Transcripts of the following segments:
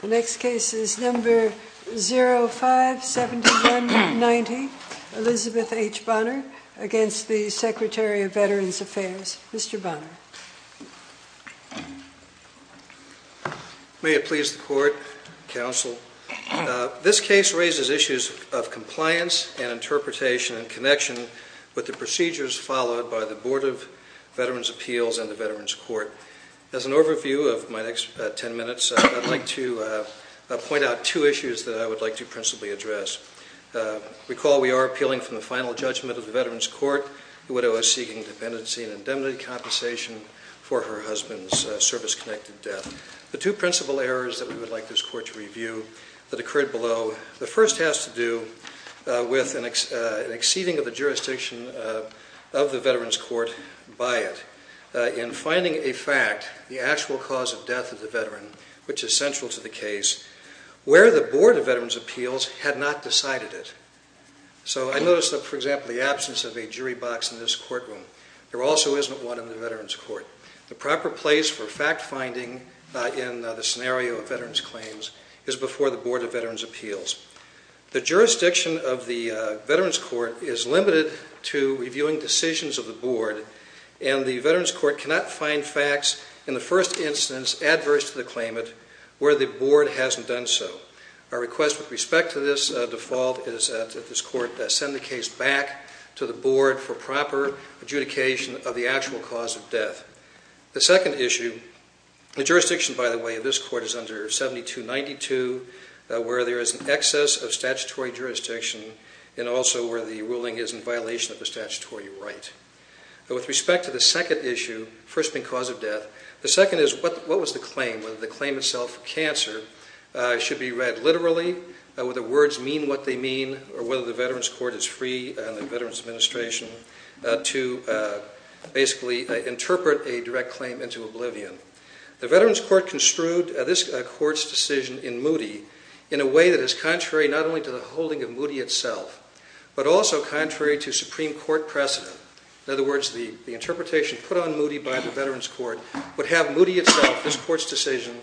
The next case is number 057190 Elizabeth H. Bonner against the Secretary of Veterans Affairs, Mr. Bonner. May it please the Court, Counsel. This case raises issues of compliance and interpretation and connection with the procedures followed by the Board of Veterans Appeals and the Veterans Court. As an overview of my next ten minutes, I'd like to point out two issues that I would like to principally address. Recall we are appealing from the final judgment of the Veterans Court, the widow is seeking dependency and indemnity compensation for her husband's service-connected death. The two principal errors that we would like this Court to review that occurred below, the first has to do with an exceeding of the jurisdiction of the Veterans Court by it. In finding a fact, the actual cause of death of the veteran, which is central to the case, where the Board of Veterans Appeals had not decided it. So I noticed that, for example, the absence of a jury box in this courtroom. There also isn't one in the Veterans Court. The proper place for fact-finding in the scenario of veterans claims is before the Board of Veterans Appeals. The jurisdiction of the Veterans Court is limited to reviewing decisions of the Board and the Veterans Court cannot find facts in the first instance adverse to the claimant where the Board hasn't done so. Our request with respect to this default is that this Court send the case back to the Board for proper adjudication of the actual cause of death. The second issue, the jurisdiction by the way of this Court is under 7292, where there is an excess of statutory jurisdiction and also where the ruling is in violation of the statutory right. With respect to the second issue, first being cause of death, the second is what was the claim, whether the claim itself for cancer should be read literally, whether the words mean what they mean, or whether the Veterans Court is free and the Veterans Administration to basically interpret a direct claim into oblivion. The Veterans Court construed this Court's decision in Moody in a way that is contrary not only to the holding of Moody itself, but also contrary to Supreme Court precedent. In other words, the interpretation put on Moody by the Veterans Court would have Moody itself, this Court's decision,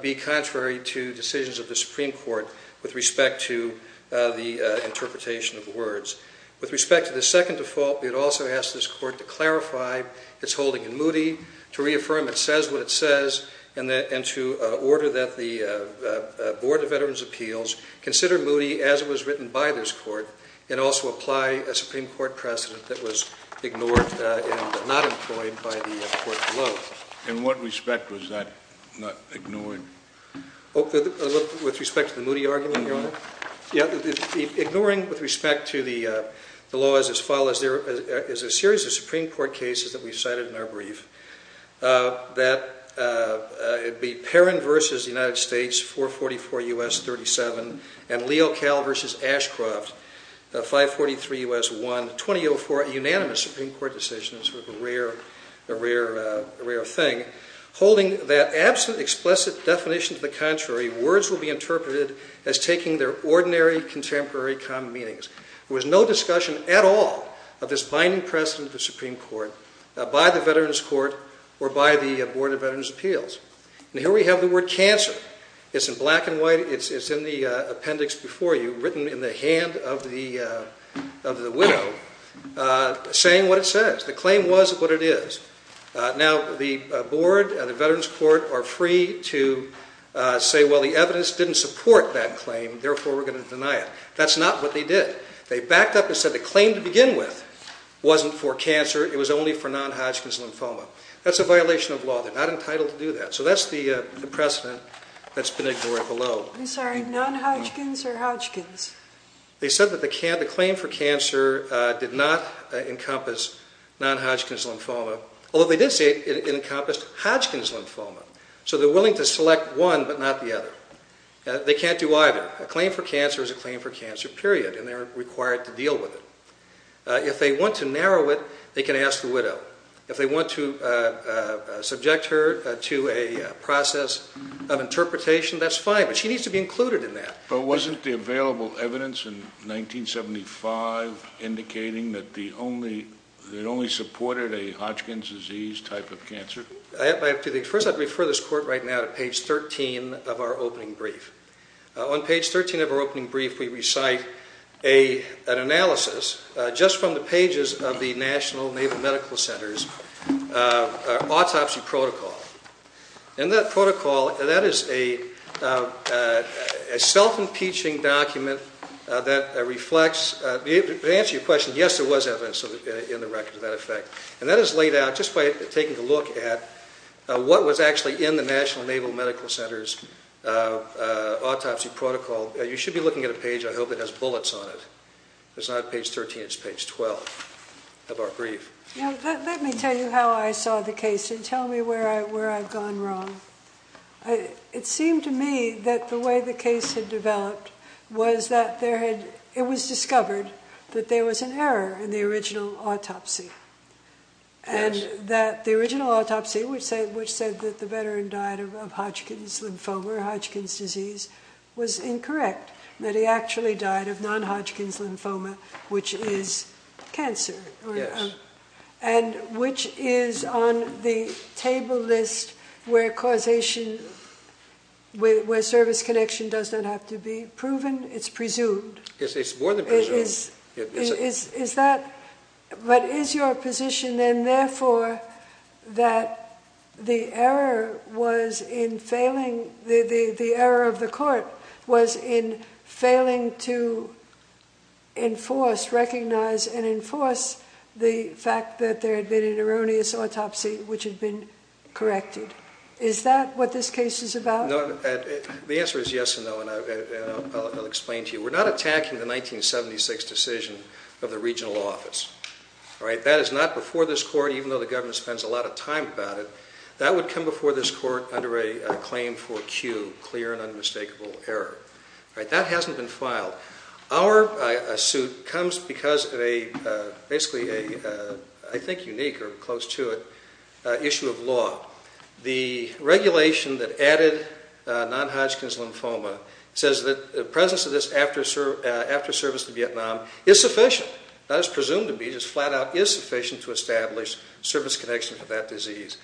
be contrary to decisions of the Supreme Court with respect to the interpretation of words. With respect to the second default, we would also ask this Court to clarify its holding in Moody, to reaffirm it says what it says, and to order that the Board of Veterans' Appeals consider Moody as it was written by this Court and also apply a Supreme Court precedent that was ignored and not employed by the Court below. In what respect was that ignored? With respect to the Moody argument, Your Honor? Yeah. Ignoring with respect to the laws as follows, there is a series of Supreme Court cases that we cited in our brief that would be Perrin v. United States, 444 U.S. 37, and Leocal v. Ashcroft, 543 U.S. 1, 2004, a unanimous Supreme Court decision, sort of a rare thing, holding that absent explicit definition to the contrary, words will be interpreted as taking their ordinary contemporary common meanings. There was no discussion at all of this binding precedent of the Supreme Court by the Veterans' Court or by the Board of Veterans' Appeals. And here we have the word cancer. It's in black and white. It's in the appendix before you, written in the hand of the widow, saying what it says. The claim was what it is. Now, the Board and the Veterans' Court are free to say, well, the evidence didn't support that claim, therefore we're going to deny it. That's not what they did. They backed up and said the claim to begin with wasn't for cancer. It was only for non-Hodgkin's lymphoma. That's a violation of law. They're not entitled to do that. So that's the precedent that's been ignored below. I'm sorry, non-Hodgkin's or Hodgkin's? They said that the claim for cancer did not encompass non-Hodgkin's lymphoma, although they did say it encompassed Hodgkin's lymphoma. So they're willing to select one but not the other. They can't do either. Now, a claim for cancer is a claim for cancer, period, and they're required to deal with it. If they want to narrow it, they can ask the widow. If they want to subject her to a process of interpretation, that's fine, but she needs to be included in that. But wasn't the available evidence in 1975 indicating that it only supported a Hodgkin's disease type of cancer? First, I'd refer this court right now to page 13 of our opening brief. On page 13 of our opening brief, we recite an analysis, just from the pages of the National Naval Medical Center's autopsy protocol. In that protocol, that is a self-impeaching document that reflects, to answer your question, yes, there was evidence in the record of that effect. And that is laid out just by taking a look at what was actually in the National Naval Medical Center's autopsy protocol. You should be looking at a page. I hope it has bullets on it. It's not page 13. It's page 12 of our brief. Now, let me tell you how I saw the case and tell me where I've gone wrong. It seemed to me that the way the case had developed was that it was discovered that there was an error in the original autopsy. And that the original autopsy, which said that the veteran died of Hodgkin's lymphoma or Hodgkin's disease, was incorrect. That he actually died of non-Hodgkin's lymphoma, which is cancer. Yes. And which is on the table list where causation, where service connection does not have to be proven. It's presumed. Yes, it's more than presumed. But is your position then, therefore, that the error of the court was in failing to enforce, recognize, and enforce the fact that there had been an erroneous autopsy which had been corrected? Is that what this case is about? The answer is yes and no. And I'll explain to you. We're not attacking the 1976 decision of the regional office. That is not before this court, even though the government spends a lot of time about it. That would come before this court under a claim for Q, clear and unmistakable error. That hasn't been filed. Our suit comes because of a, basically a, I think unique or close to it, issue of law. The regulation that added non-Hodgkin's lymphoma says that the presence of this after service to Vietnam is sufficient. Not as presumed to be, just flat out is sufficient to establish service connection for that disease.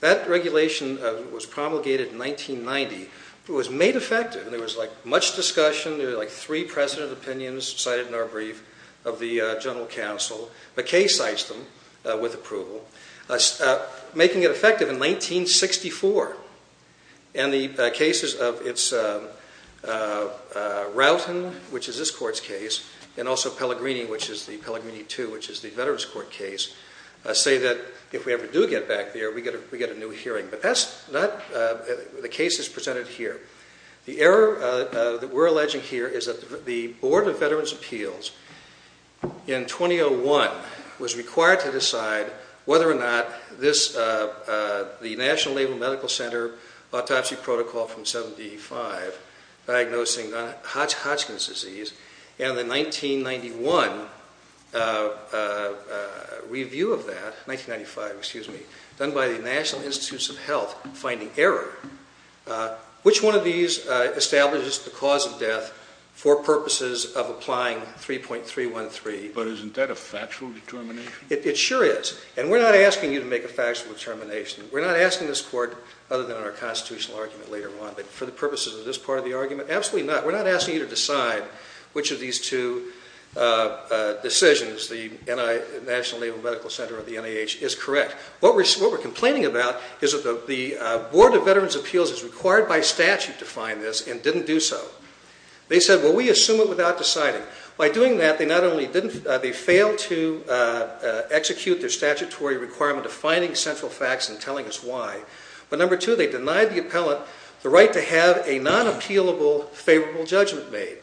That regulation was promulgated in 1990. It was made effective. There was, like, much discussion. There were, like, three precedent opinions cited in our brief of the general counsel. McKay cites them with approval. Making it effective in 1964. And the cases of its, Roughton, which is this court's case, and also Pellegrini, which is the Pellegrini II, which is the Veterans Court case, say that if we ever do get back there, we get a new hearing. But that's not, the case is presented here. The error that we're alleging here is that the Board of Veterans' Appeals, in 2001, was required to decide whether or not this, the National Labor Medical Center autopsy protocol from 75, diagnosing Hodgkin's disease, and the 1991 review of that, 1995, excuse me, done by the National Institutes of Health, finding error. Which one of these establishes the cause of death for purposes of applying 3.313? But isn't that a factual determination? It sure is. And we're not asking you to make a factual determination. We're not asking this court, other than in our constitutional argument later on, but for the purposes of this part of the argument, absolutely not. We're not asking you to decide which of these two decisions, the National Labor Medical Center or the NIH, is correct. In fact, what we're complaining about is that the Board of Veterans' Appeals is required by statute to find this and didn't do so. They said, well, we assume it without deciding. By doing that, they not only didn't, they failed to execute their statutory requirement of finding central facts and telling us why. But number two, they denied the appellant the right to have a non-appealable favorable judgment made.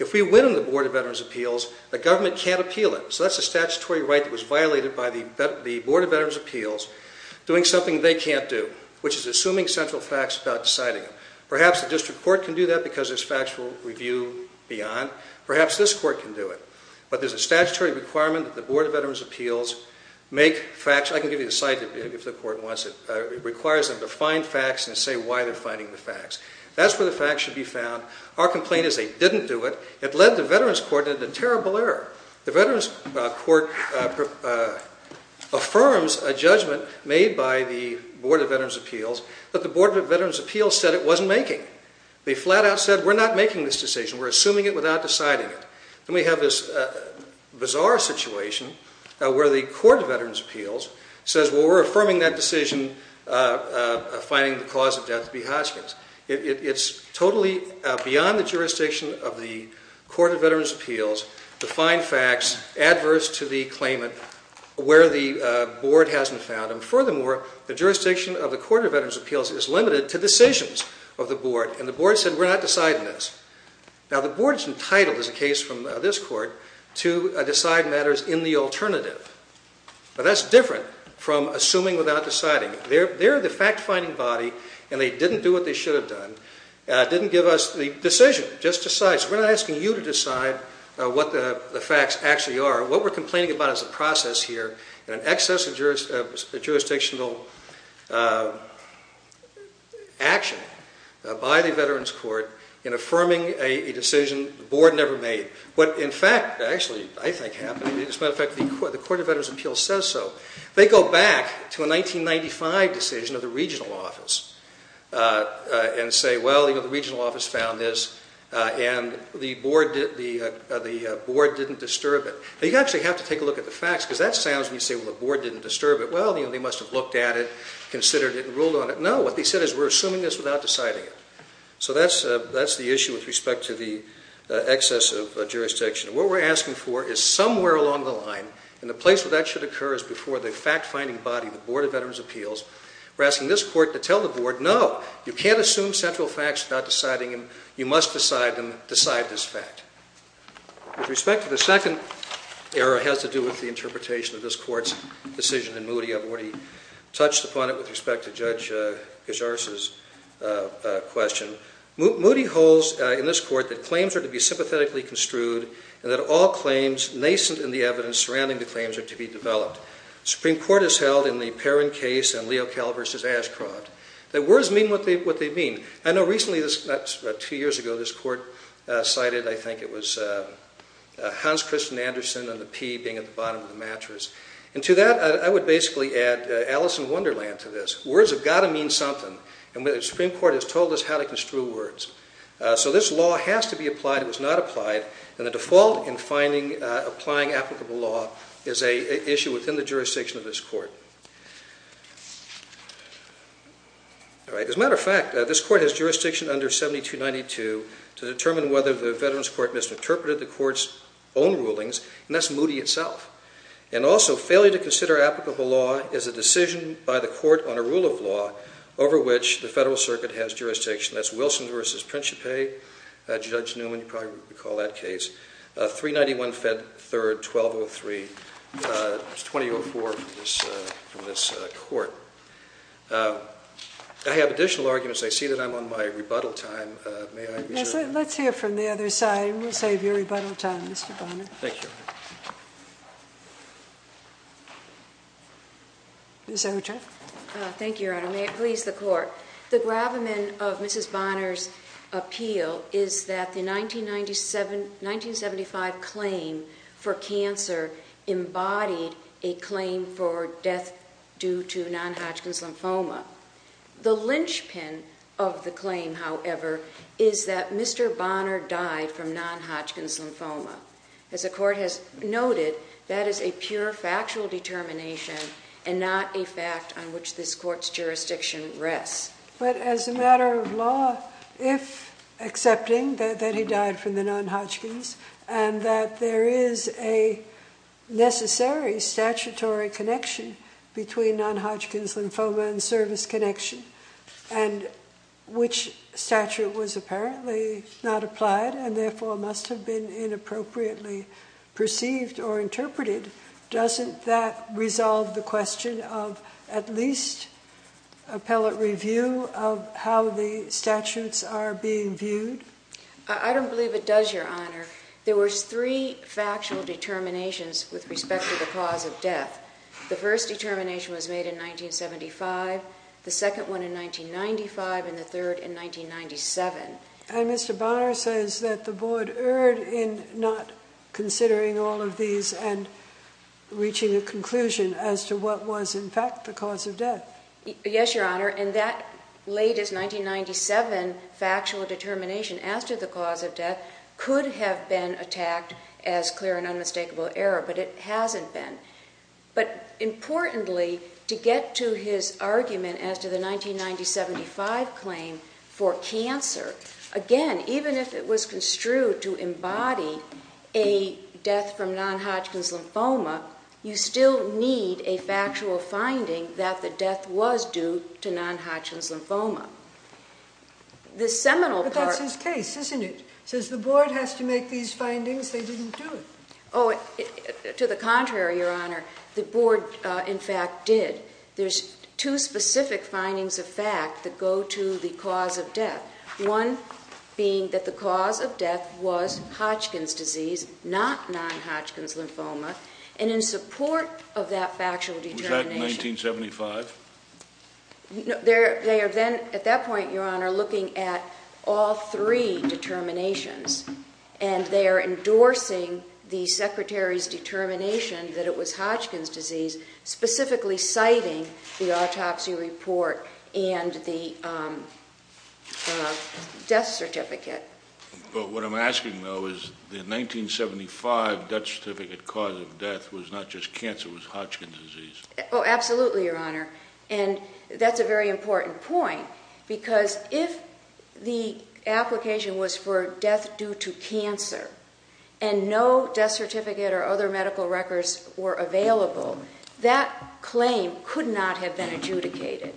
If we win in the Board of Veterans' Appeals, the government can't appeal it. So that's a statutory right that was violated by the Board of Veterans' Appeals doing something they can't do, which is assuming central facts without deciding them. Perhaps the district court can do that because there's factual review beyond. Perhaps this court can do it. But there's a statutory requirement that the Board of Veterans' Appeals make facts. I can give you the site if the court wants it. It requires them to find facts and say why they're finding the facts. That's where the facts should be found. Our complaint is they didn't do it. It led the Veterans' Court into terrible error. The Veterans' Court affirms a judgment made by the Board of Veterans' Appeals that the Board of Veterans' Appeals said it wasn't making. They flat out said, we're not making this decision. We're assuming it without deciding it. Then we have this bizarre situation where the Court of Veterans' Appeals says, well, we're affirming that decision, finding the cause of death to be Hodgkin's. It's totally beyond the jurisdiction of the Court of Veterans' Appeals to find facts adverse to the claimant where the Board hasn't found them. Furthermore, the jurisdiction of the Court of Veterans' Appeals is limited to decisions of the Board. And the Board said, we're not deciding this. Now, the Board is entitled, as the case from this court, to decide matters in the alternative. But that's different from assuming without deciding. They're the fact-finding body, and they didn't do what they should have done, didn't give us the decision, just decide. So we're not asking you to decide what the facts actually are. What we're complaining about is a process here and an excess of jurisdictional action by the Veterans' Court in affirming a decision the Board never made. What, in fact, actually I think happened, as a matter of fact, the Court of Veterans' Appeals says so. They go back to a 1995 decision of the regional office and say, well, you know, the regional office found this, and the Board didn't disturb it. Now, you actually have to take a look at the facts, because that sounds when you say, well, the Board didn't disturb it. Well, you know, they must have looked at it, considered it, and ruled on it. No, what they said is, we're assuming this without deciding it. So that's the issue with respect to the excess of jurisdiction. What we're asking for is somewhere along the line, and the place where that should occur is before the fact-finding body, the Board of Veterans' Appeals. We're asking this Court to tell the Board, no, you can't assume central facts without deciding them. You must decide them, decide this fact. With respect to the second error, it has to do with the interpretation of this Court's decision in Moody. I've already touched upon it with respect to Judge Gers' question. Moody holds in this Court that claims are to be sympathetically construed, and that all claims nascent in the evidence surrounding the claims are to be developed. The Supreme Court has held in the Perrin case and Leocal v. Ashcroft that words mean what they mean. I know recently, about two years ago, this Court cited, I think it was Hans Christian Andersen and the P being at the bottom of the mattress. To that, I would basically add Alice in Wonderland to this. Words have got to mean something, and the Supreme Court has told us how to construe words. This law has to be applied. It was not applied. The default in applying applicable law is an issue within the jurisdiction of this Court. As a matter of fact, this Court has jurisdiction under 7292 to determine whether the Veterans' Court misinterpreted the Court's own rulings, and that's Moody itself. And also, failure to consider applicable law is a decision by the Court on a rule of law over which the Federal Circuit has jurisdiction. That's Wilson v. Principe, Judge Newman, you probably recall that case, 391-3-1203, 2004 from this Court. I have additional arguments. I see that I'm on my rebuttal time. May I reserve it? Let's hear from the other side, and we'll save your rebuttal time, Mr. Bonner. Thank you. Mr. Secretary? Thank you, Your Honor. May it please the Court. The gravamen of Mrs. Bonner's appeal is that the 1975 claim for cancer embodied a claim for death due to non-Hodgkin's lymphoma. The linchpin of the claim, however, is that Mr. Bonner died from non-Hodgkin's lymphoma. As the Court has noted, that is a pure factual determination and not a fact on which this Court's jurisdiction rests. But as a matter of law, if accepting that he died from the non-Hodgkin's and that there is a necessary statutory connection between non-Hodgkin's lymphoma and service connection, and which statute was apparently not applied and therefore must have been inappropriately perceived or interpreted, doesn't that resolve the question of at least appellate review of how the statutes are being viewed? I don't believe it does, Your Honor. There were three factual determinations with respect to the cause of death. The first determination was made in 1975, the second one in 1995, and the third in 1997. And Mr. Bonner says that the Board erred in not considering all of these and reaching a conclusion as to what was in fact the cause of death. Yes, Your Honor, and that latest 1997 factual determination as to the cause of death could have been attacked as clear and unmistakable error, but it hasn't been. But importantly, to get to his argument as to the 1995 claim for cancer, again, even if it was construed to embody a death from non-Hodgkin's lymphoma, you still need a factual finding that the death was due to non-Hodgkin's lymphoma. But that's his case, isn't it? Since the Board has to make these findings, they didn't do it. Oh, to the contrary, Your Honor. The Board, in fact, did. There's two specific findings of fact that go to the cause of death, one being that the cause of death was Hodgkin's disease, not non-Hodgkin's lymphoma, and in support of that factual determination... Was that in 1975? No, they are then, at that point, Your Honor, looking at all three determinations, and they are endorsing the Secretary's determination that it was Hodgkin's disease, specifically citing the autopsy report and the death certificate. But what I'm asking, though, is the 1975 death certificate cause of death was not just cancer, it was Hodgkin's disease. Oh, absolutely, Your Honor, and that's a very important point because if the application was for death due to cancer and no death certificate or other medical records were available, that claim could not have been adjudicated.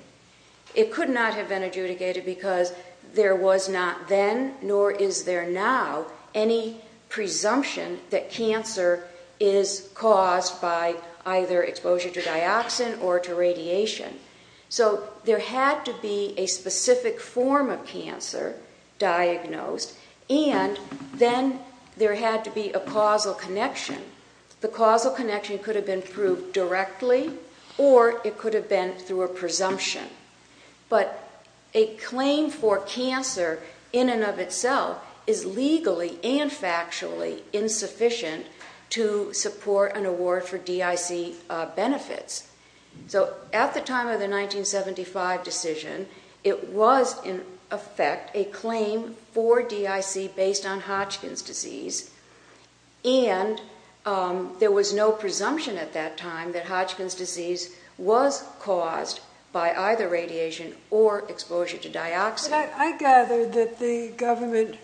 It could not have been adjudicated because there was not then, nor is there now, any presumption that cancer is caused by either exposure to dioxin or to radiation. So there had to be a specific form of cancer diagnosed, and then there had to be a causal connection. The causal connection could have been proved directly or it could have been through a presumption. But a claim for cancer in and of itself is legally and factually insufficient to support an award for DIC benefits. So at the time of the 1975 decision, it was, in effect, a claim for DIC based on Hodgkin's disease, and there was no presumption at that time that Hodgkin's disease was caused by either radiation or exposure to dioxin. But I gather that the government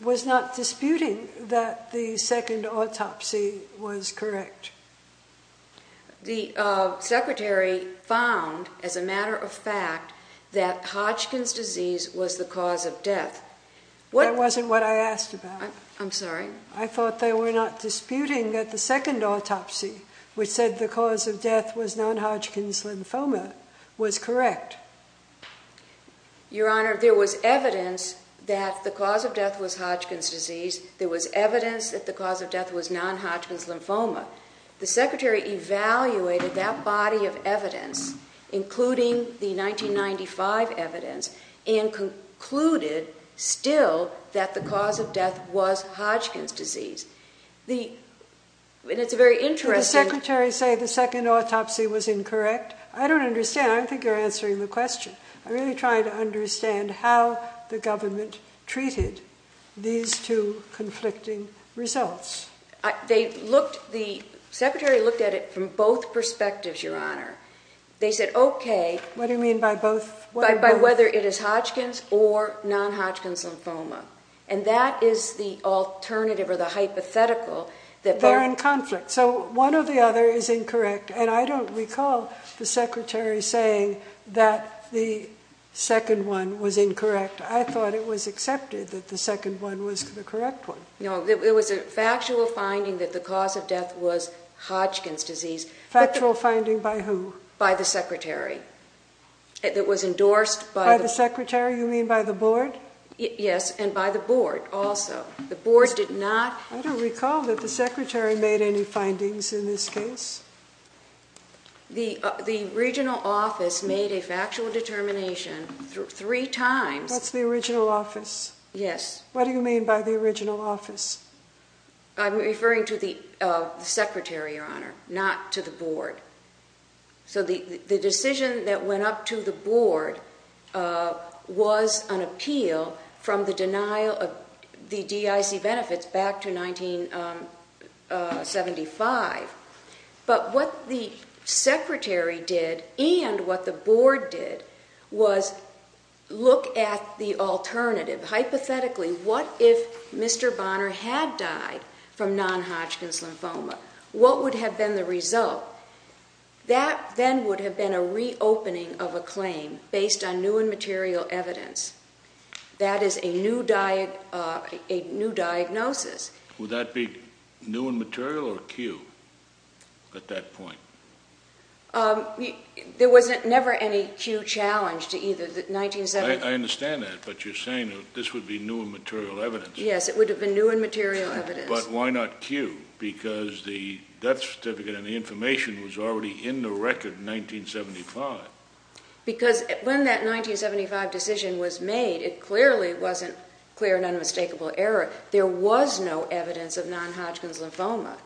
was not disputing that the second autopsy was correct. The Secretary found, as a matter of fact, that Hodgkin's disease was the cause of death. That wasn't what I asked about. I'm sorry? I thought they were not disputing that the second autopsy, which said the cause of death was non-Hodgkin's lymphoma, was correct. Your Honor, there was evidence that the cause of death was Hodgkin's disease. There was evidence that the cause of death was non-Hodgkin's lymphoma. The Secretary evaluated that body of evidence, including the 1995 evidence, and concluded still that the cause of death was Hodgkin's disease. And it's very interesting. Did the Secretary say the second autopsy was incorrect? I don't understand. I don't think you're answering the question. I'm really trying to understand how the government treated these two conflicting results. The Secretary looked at it from both perspectives, Your Honor. They said, okay. What do you mean by both? By whether it is Hodgkin's or non-Hodgkin's lymphoma. And that is the alternative or the hypothetical. They're in conflict. So one or the other is incorrect. And I don't recall the Secretary saying that the second one was incorrect. I thought it was accepted that the second one was the correct one. No, there was a factual finding that the cause of death was Hodgkin's disease. Factual finding by who? By the Secretary. It was endorsed by the— By the Secretary? You mean by the board? Yes, and by the board also. The board did not— I don't recall that the Secretary made any findings in this case. The regional office made a factual determination three times— That's the original office? Yes. What do you mean by the original office? I'm referring to the Secretary, Your Honor, not to the board. So the decision that went up to the board was an appeal from the denial of the DIC benefits back to 1975. But what the Secretary did and what the board did was look at the alternative, hypothetically, what if Mr. Bonner had died from non-Hodgkin's lymphoma? What would have been the result? That then would have been a reopening of a claim based on new and material evidence. That is a new diagnosis. Would that be new and material or acute at that point? There was never any acute challenge to either. I understand that, but you're saying this would be new and material evidence. Yes, it would have been new and material evidence. But why not acute? Because the death certificate and the information was already in the record in 1975. Because when that 1975 decision was made, it clearly wasn't clear and unmistakable error. There was no evidence of non-Hodgkin's lymphoma.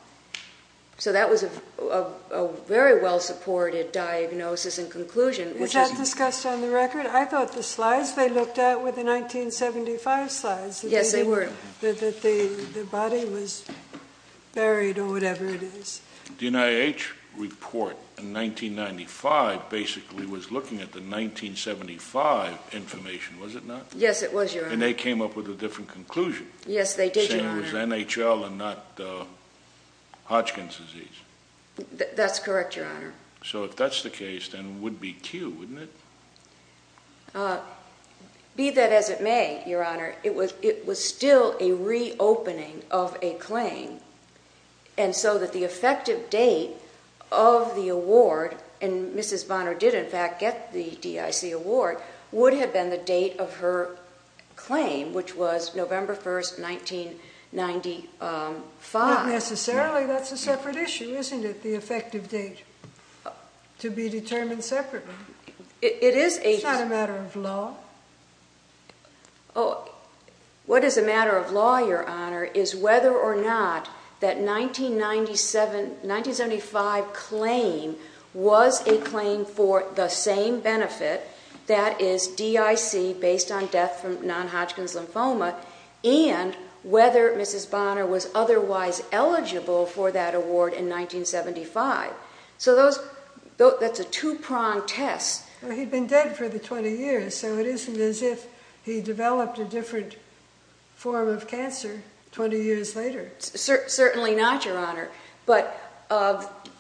So that was a very well-supported diagnosis and conclusion. Was that discussed on the record? I thought the slides they looked at were the 1975 slides. Yes, they were. That the body was buried or whatever it is. The NIH report in 1995 basically was looking at the 1975 information, was it not? Yes, it was, Your Honor. And they came up with a different conclusion. Yes, they did, Your Honor. Saying it was NHL and not Hodgkin's disease. That's correct, Your Honor. So if that's the case, then it would be acute, wouldn't it? Be that as it may, Your Honor, it was still a reopening of a claim. And so that the effective date of the award, and Mrs. Bonner did, in fact, get the DIC award, would have been the date of her claim, which was November 1, 1995. Not necessarily. That's a separate issue, isn't it? The effective date to be determined separately. It is a separate issue. It's not a matter of law. What is a matter of law, Your Honor, is whether or not that 1975 claim was a claim for the same benefit, that is DIC, based on death from non-Hodgkin's lymphoma, and whether Mrs. Bonner was otherwise eligible for that award in 1975. So that's a two-pronged test. He'd been dead for the 20 years, so it isn't as if he developed a different form of cancer 20 years later. Certainly not, Your Honor. But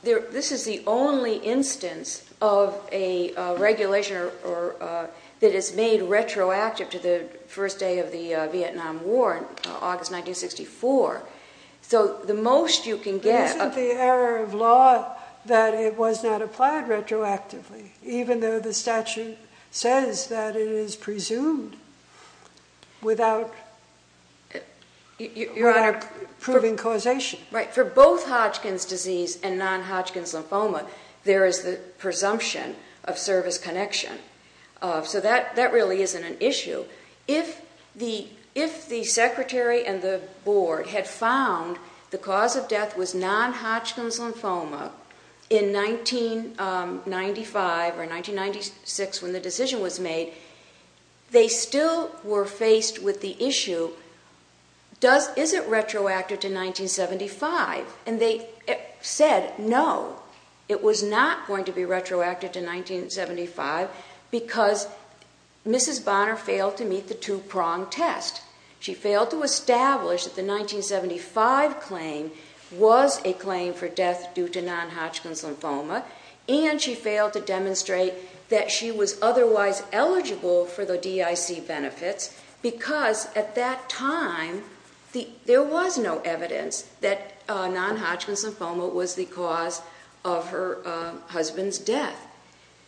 this is the only instance of a regulation that is made retroactive to the first day of the Vietnam War, August 1964. So the most you can get- It isn't the error of law that it was not applied retroactively, even though the statute says that it is presumed without proving causation. Right. For both Hodgkin's disease and non-Hodgkin's lymphoma, there is the presumption of service connection. So that really isn't an issue. If the secretary and the board had found the cause of death was non-Hodgkin's lymphoma in 1995 or 1996 when the decision was made, is it retroactive to 1975? And they said no, it was not going to be retroactive to 1975 because Mrs. Bonner failed to meet the two-pronged test. She failed to establish that the 1975 claim was a claim for death due to non-Hodgkin's lymphoma, and she failed to demonstrate that she was otherwise eligible for the DIC benefits because at that time there was no evidence that non-Hodgkin's lymphoma was the cause of her husband's death.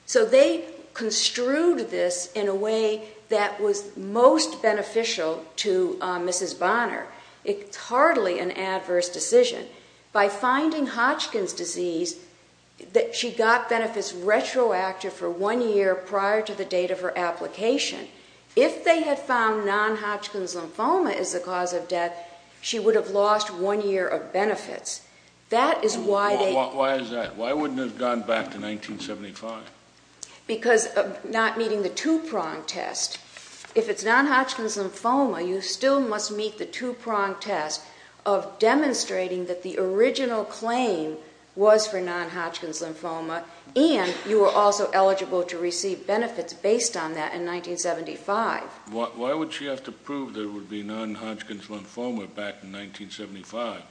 So they construed this in a way that was most beneficial to Mrs. Bonner. It's hardly an adverse decision. By finding Hodgkin's disease, she got benefits retroactive for one year prior to the date of her application. If they had found non-Hodgkin's lymphoma is the cause of death, she would have lost one year of benefits. That is why they... Why is that? Why wouldn't it have gone back to 1975? Because of not meeting the two-pronged test. If it's non-Hodgkin's lymphoma, you still must meet the two-pronged test of demonstrating that the original claim was for non-Hodgkin's lymphoma, and you were also eligible to receive benefits based on that in 1975. Why would she have to prove there would be non-Hodgkin's lymphoma back in 1975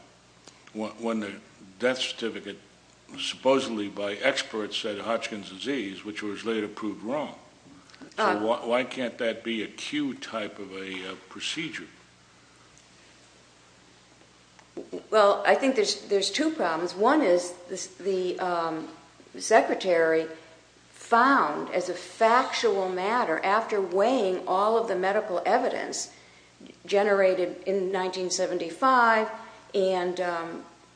when the death certificate supposedly by experts said Hodgkin's disease, which was later proved wrong? So why can't that be a Q-type of a procedure? Well, I think there's two problems. One is the secretary found as a factual matter after weighing all of the medical evidence generated in 1975 and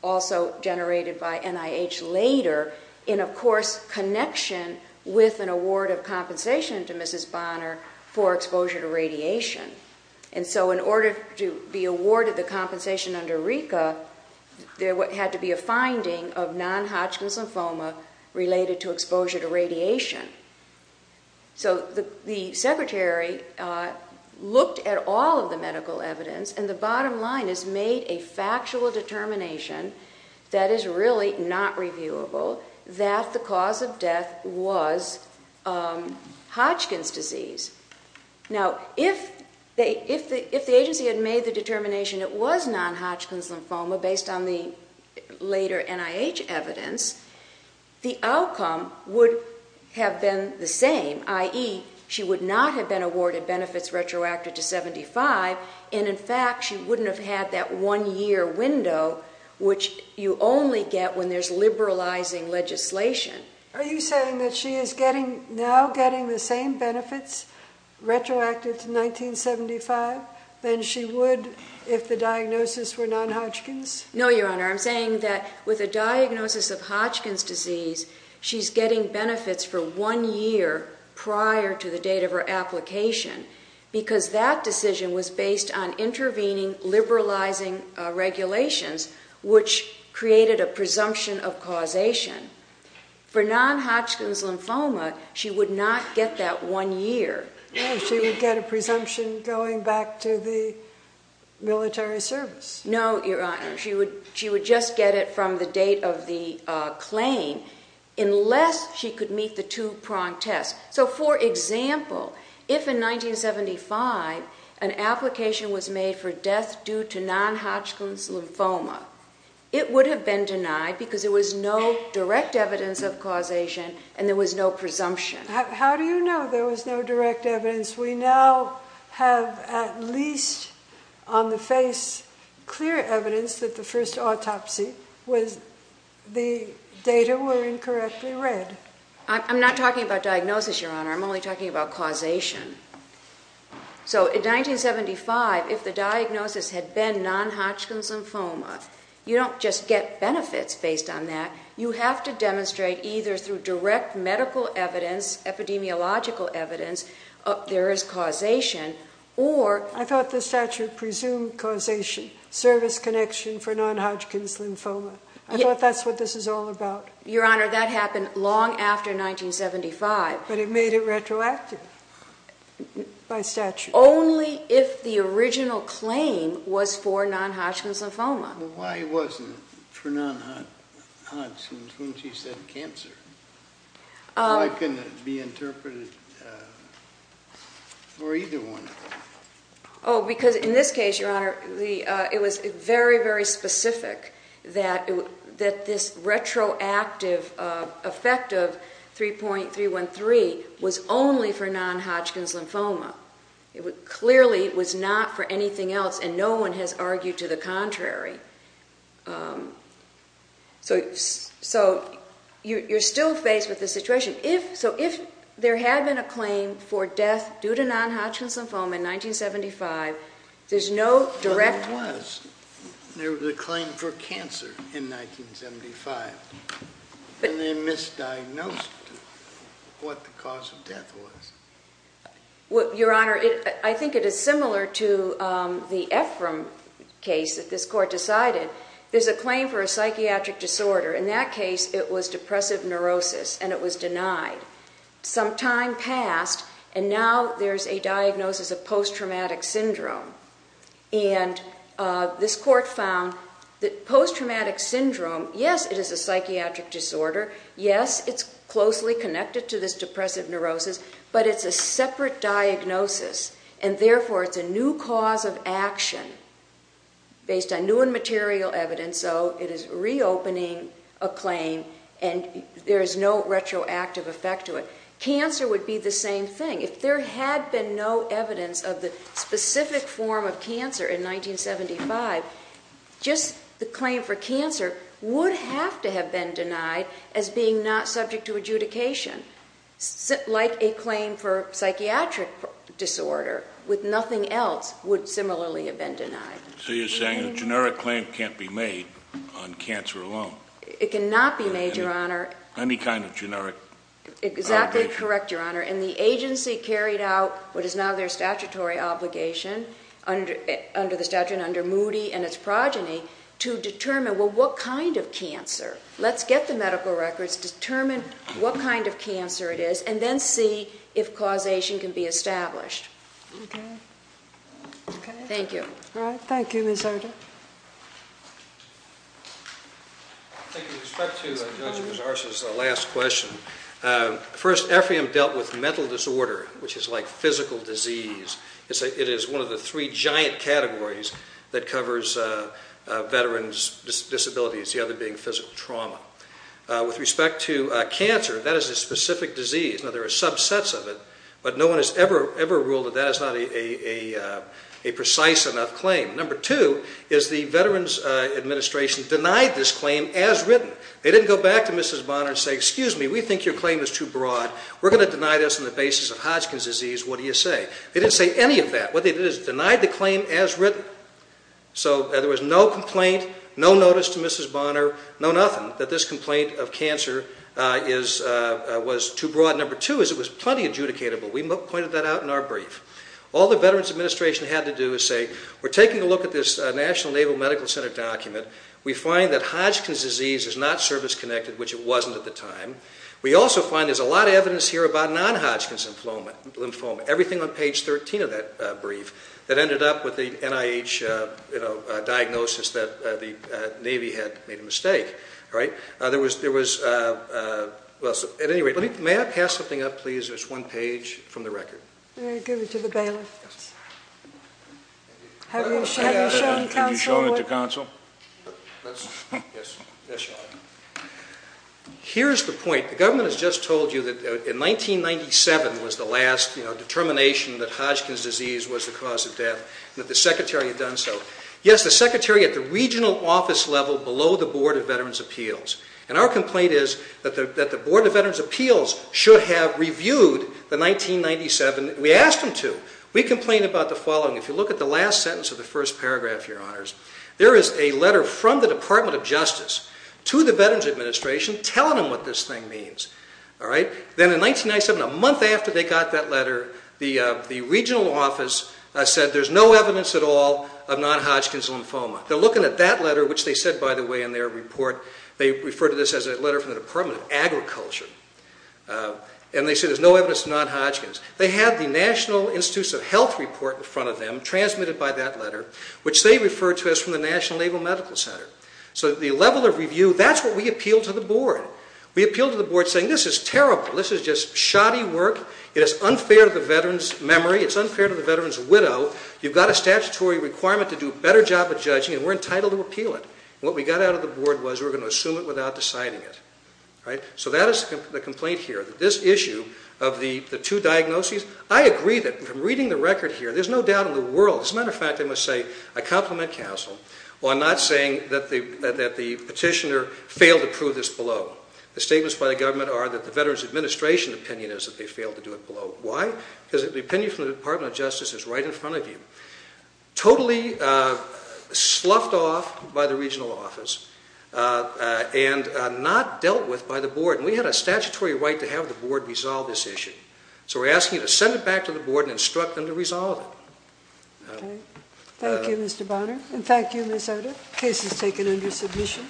also generated by NIH later in, of course, connection with an award of compensation to Mrs. Bonner for exposure to radiation. And so in order to be awarded the compensation under RICA, there had to be a finding of non-Hodgkin's lymphoma related to exposure to radiation. So the secretary looked at all of the medical evidence, and the bottom line is made a factual determination that is really not reviewable that the cause of death was Hodgkin's disease. Now, if the agency had made the determination it was non-Hodgkin's lymphoma based on the later NIH evidence, the outcome would have been the same, i.e., she would not have been awarded benefits retroactive to 1975, and in fact she wouldn't have had that one-year window which you only get when there's liberalizing legislation. Are you saying that she is now getting the same benefits retroactive to 1975 than she would if the diagnosis were non-Hodgkin's? No, Your Honor. I'm saying that with a diagnosis of Hodgkin's disease, she's getting benefits for one year prior to the date of her application because that decision was based on intervening, liberalizing regulations which created a presumption of causation. For non-Hodgkin's lymphoma, she would not get that one year. No, she would get a presumption going back to the military service. No, Your Honor. She would just get it from the date of the claim unless she could meet the two-prong test. So, for example, if in 1975 an application was made for death due to non-Hodgkin's lymphoma, it would have been denied because there was no direct evidence of causation and there was no presumption. How do you know there was no direct evidence? We now have at least on the face clear evidence that the first autopsy was the data were incorrectly read. I'm not talking about diagnosis, Your Honor. I'm only talking about causation. So in 1975, if the diagnosis had been non-Hodgkin's lymphoma, you don't just get benefits based on that. You have to demonstrate either through direct medical evidence, epidemiological evidence, there is causation or... I thought the statute presumed causation, service connection for non-Hodgkin's lymphoma. I thought that's what this is all about. Your Honor, that happened long after 1975. But it made it retroactive by statute. Only if the original claim was for non-Hodgkin's lymphoma. Why wasn't it for non-Hodgkin's when she said cancer? Why couldn't it be interpreted for either one? Oh, because in this case, Your Honor, it was very, very specific that this retroactive effect of 3.313 was only for non-Hodgkin's lymphoma. Clearly it was not for anything else and no one has argued to the contrary. So you're still faced with this situation. So if there had been a claim for death due to non-Hodgkin's lymphoma in 1975, there's no direct... There was. There was a claim for cancer in 1975. And they misdiagnosed what the cause of death was. Your Honor, I think it is similar to the Ephraim case that this Court decided. There's a claim for a psychiatric disorder. In that case, it was depressive neurosis and it was denied. Some time passed and now there's a diagnosis of post-traumatic syndrome. And this Court found that post-traumatic syndrome, yes, it is a psychiatric disorder. Yes, it's closely connected to this depressive neurosis. But it's a separate diagnosis and therefore it's a new cause of action based on new and material evidence. And so it is reopening a claim and there is no retroactive effect to it. Cancer would be the same thing. If there had been no evidence of the specific form of cancer in 1975, just the claim for cancer would have to have been denied as being not subject to adjudication. Like a claim for psychiatric disorder with nothing else would similarly have been denied. So you're saying a generic claim can't be made on cancer alone? It cannot be made, Your Honor. Any kind of generic? Exactly correct, Your Honor. And the agency carried out what is now their statutory obligation under the statute, under Moody and its progeny, to determine, well, what kind of cancer? Let's get the medical records, determine what kind of cancer it is, and then see if causation can be established. Okay. Okay. Thank you. All right. Thank you, Ms. Archer. Thank you. With respect to Dr. Mazar's last question, first, ephium dealt with mental disorder, which is like physical disease. It is one of the three giant categories that covers veterans' disabilities, the other being physical trauma. With respect to cancer, that is a specific disease. Now, there are subsets of it, but no one has ever ruled that that is not a precise enough claim. Number two is the Veterans Administration denied this claim as written. They didn't go back to Mrs. Bonner and say, Excuse me, we think your claim is too broad. We're going to deny this on the basis of Hodgkin's disease. What do you say? They didn't say any of that. What they did is denied the claim as written. So there was no complaint, no notice to Mrs. Bonner, no nothing, that this complaint of cancer was too broad. Number two is it was plenty adjudicatable. We pointed that out in our brief. All the Veterans Administration had to do is say, We're taking a look at this National Naval Medical Center document. We find that Hodgkin's disease is not service-connected, which it wasn't at the time. We also find there's a lot of evidence here about non-Hodgkin's lymphoma, everything on page 13 of that brief, that ended up with the NIH diagnosis that the Navy had made a mistake. May I pass something up, please? There's one page from the record. Very good. To the bailiff. Have you shown it to counsel? Yes, I've shown it. Here's the point. The government has just told you that in 1997 was the last determination that Hodgkin's disease was the cause of death and that the secretary had done so. Yes, the secretary at the regional office level below the Board of Veterans' Appeals. And our complaint is that the Board of Veterans' Appeals should have reviewed the 1997. We asked them to. We complained about the following. If you look at the last sentence of the first paragraph, Your Honors, there is a letter from the Department of Justice to the Veterans Administration telling them what this thing means. Then in 1997, a month after they got that letter, the regional office said there's no evidence at all of non-Hodgkin's lymphoma. They're looking at that letter, which they said, by the way, in their report, they refer to this as a letter from the Department of Agriculture, and they say there's no evidence of non-Hodgkin's. They had the National Institutes of Health report in front of them, transmitted by that letter, which they referred to as from the National Naval Medical Center. So the level of review, that's what we appealed to the Board. We appealed to the Board saying this is terrible. This is just shoddy work. It is unfair to the veterans' memory. It's unfair to the veterans' widow. You've got a statutory requirement to do a better job of judging, and we're entitled to appeal it. What we got out of the Board was we were going to assume it without deciding it. So that is the complaint here, that this issue of the two diagnoses, I agree that from reading the record here, there's no doubt in the world, as a matter of fact, I must say I compliment counsel on not saying that the petitioner failed to prove this below. The statements by the government are that the Veterans Administration opinion is that they failed to do it below. Why? Because the opinion from the Department of Justice is right in front of you. Totally sloughed off by the regional office, and not dealt with by the Board. We had a statutory right to have the Board resolve this issue. So we're asking you to send it back to the Board and instruct them to resolve it. Thank you, Mr. Bonner, and thank you, Ms. Oda. The case is taken under submission.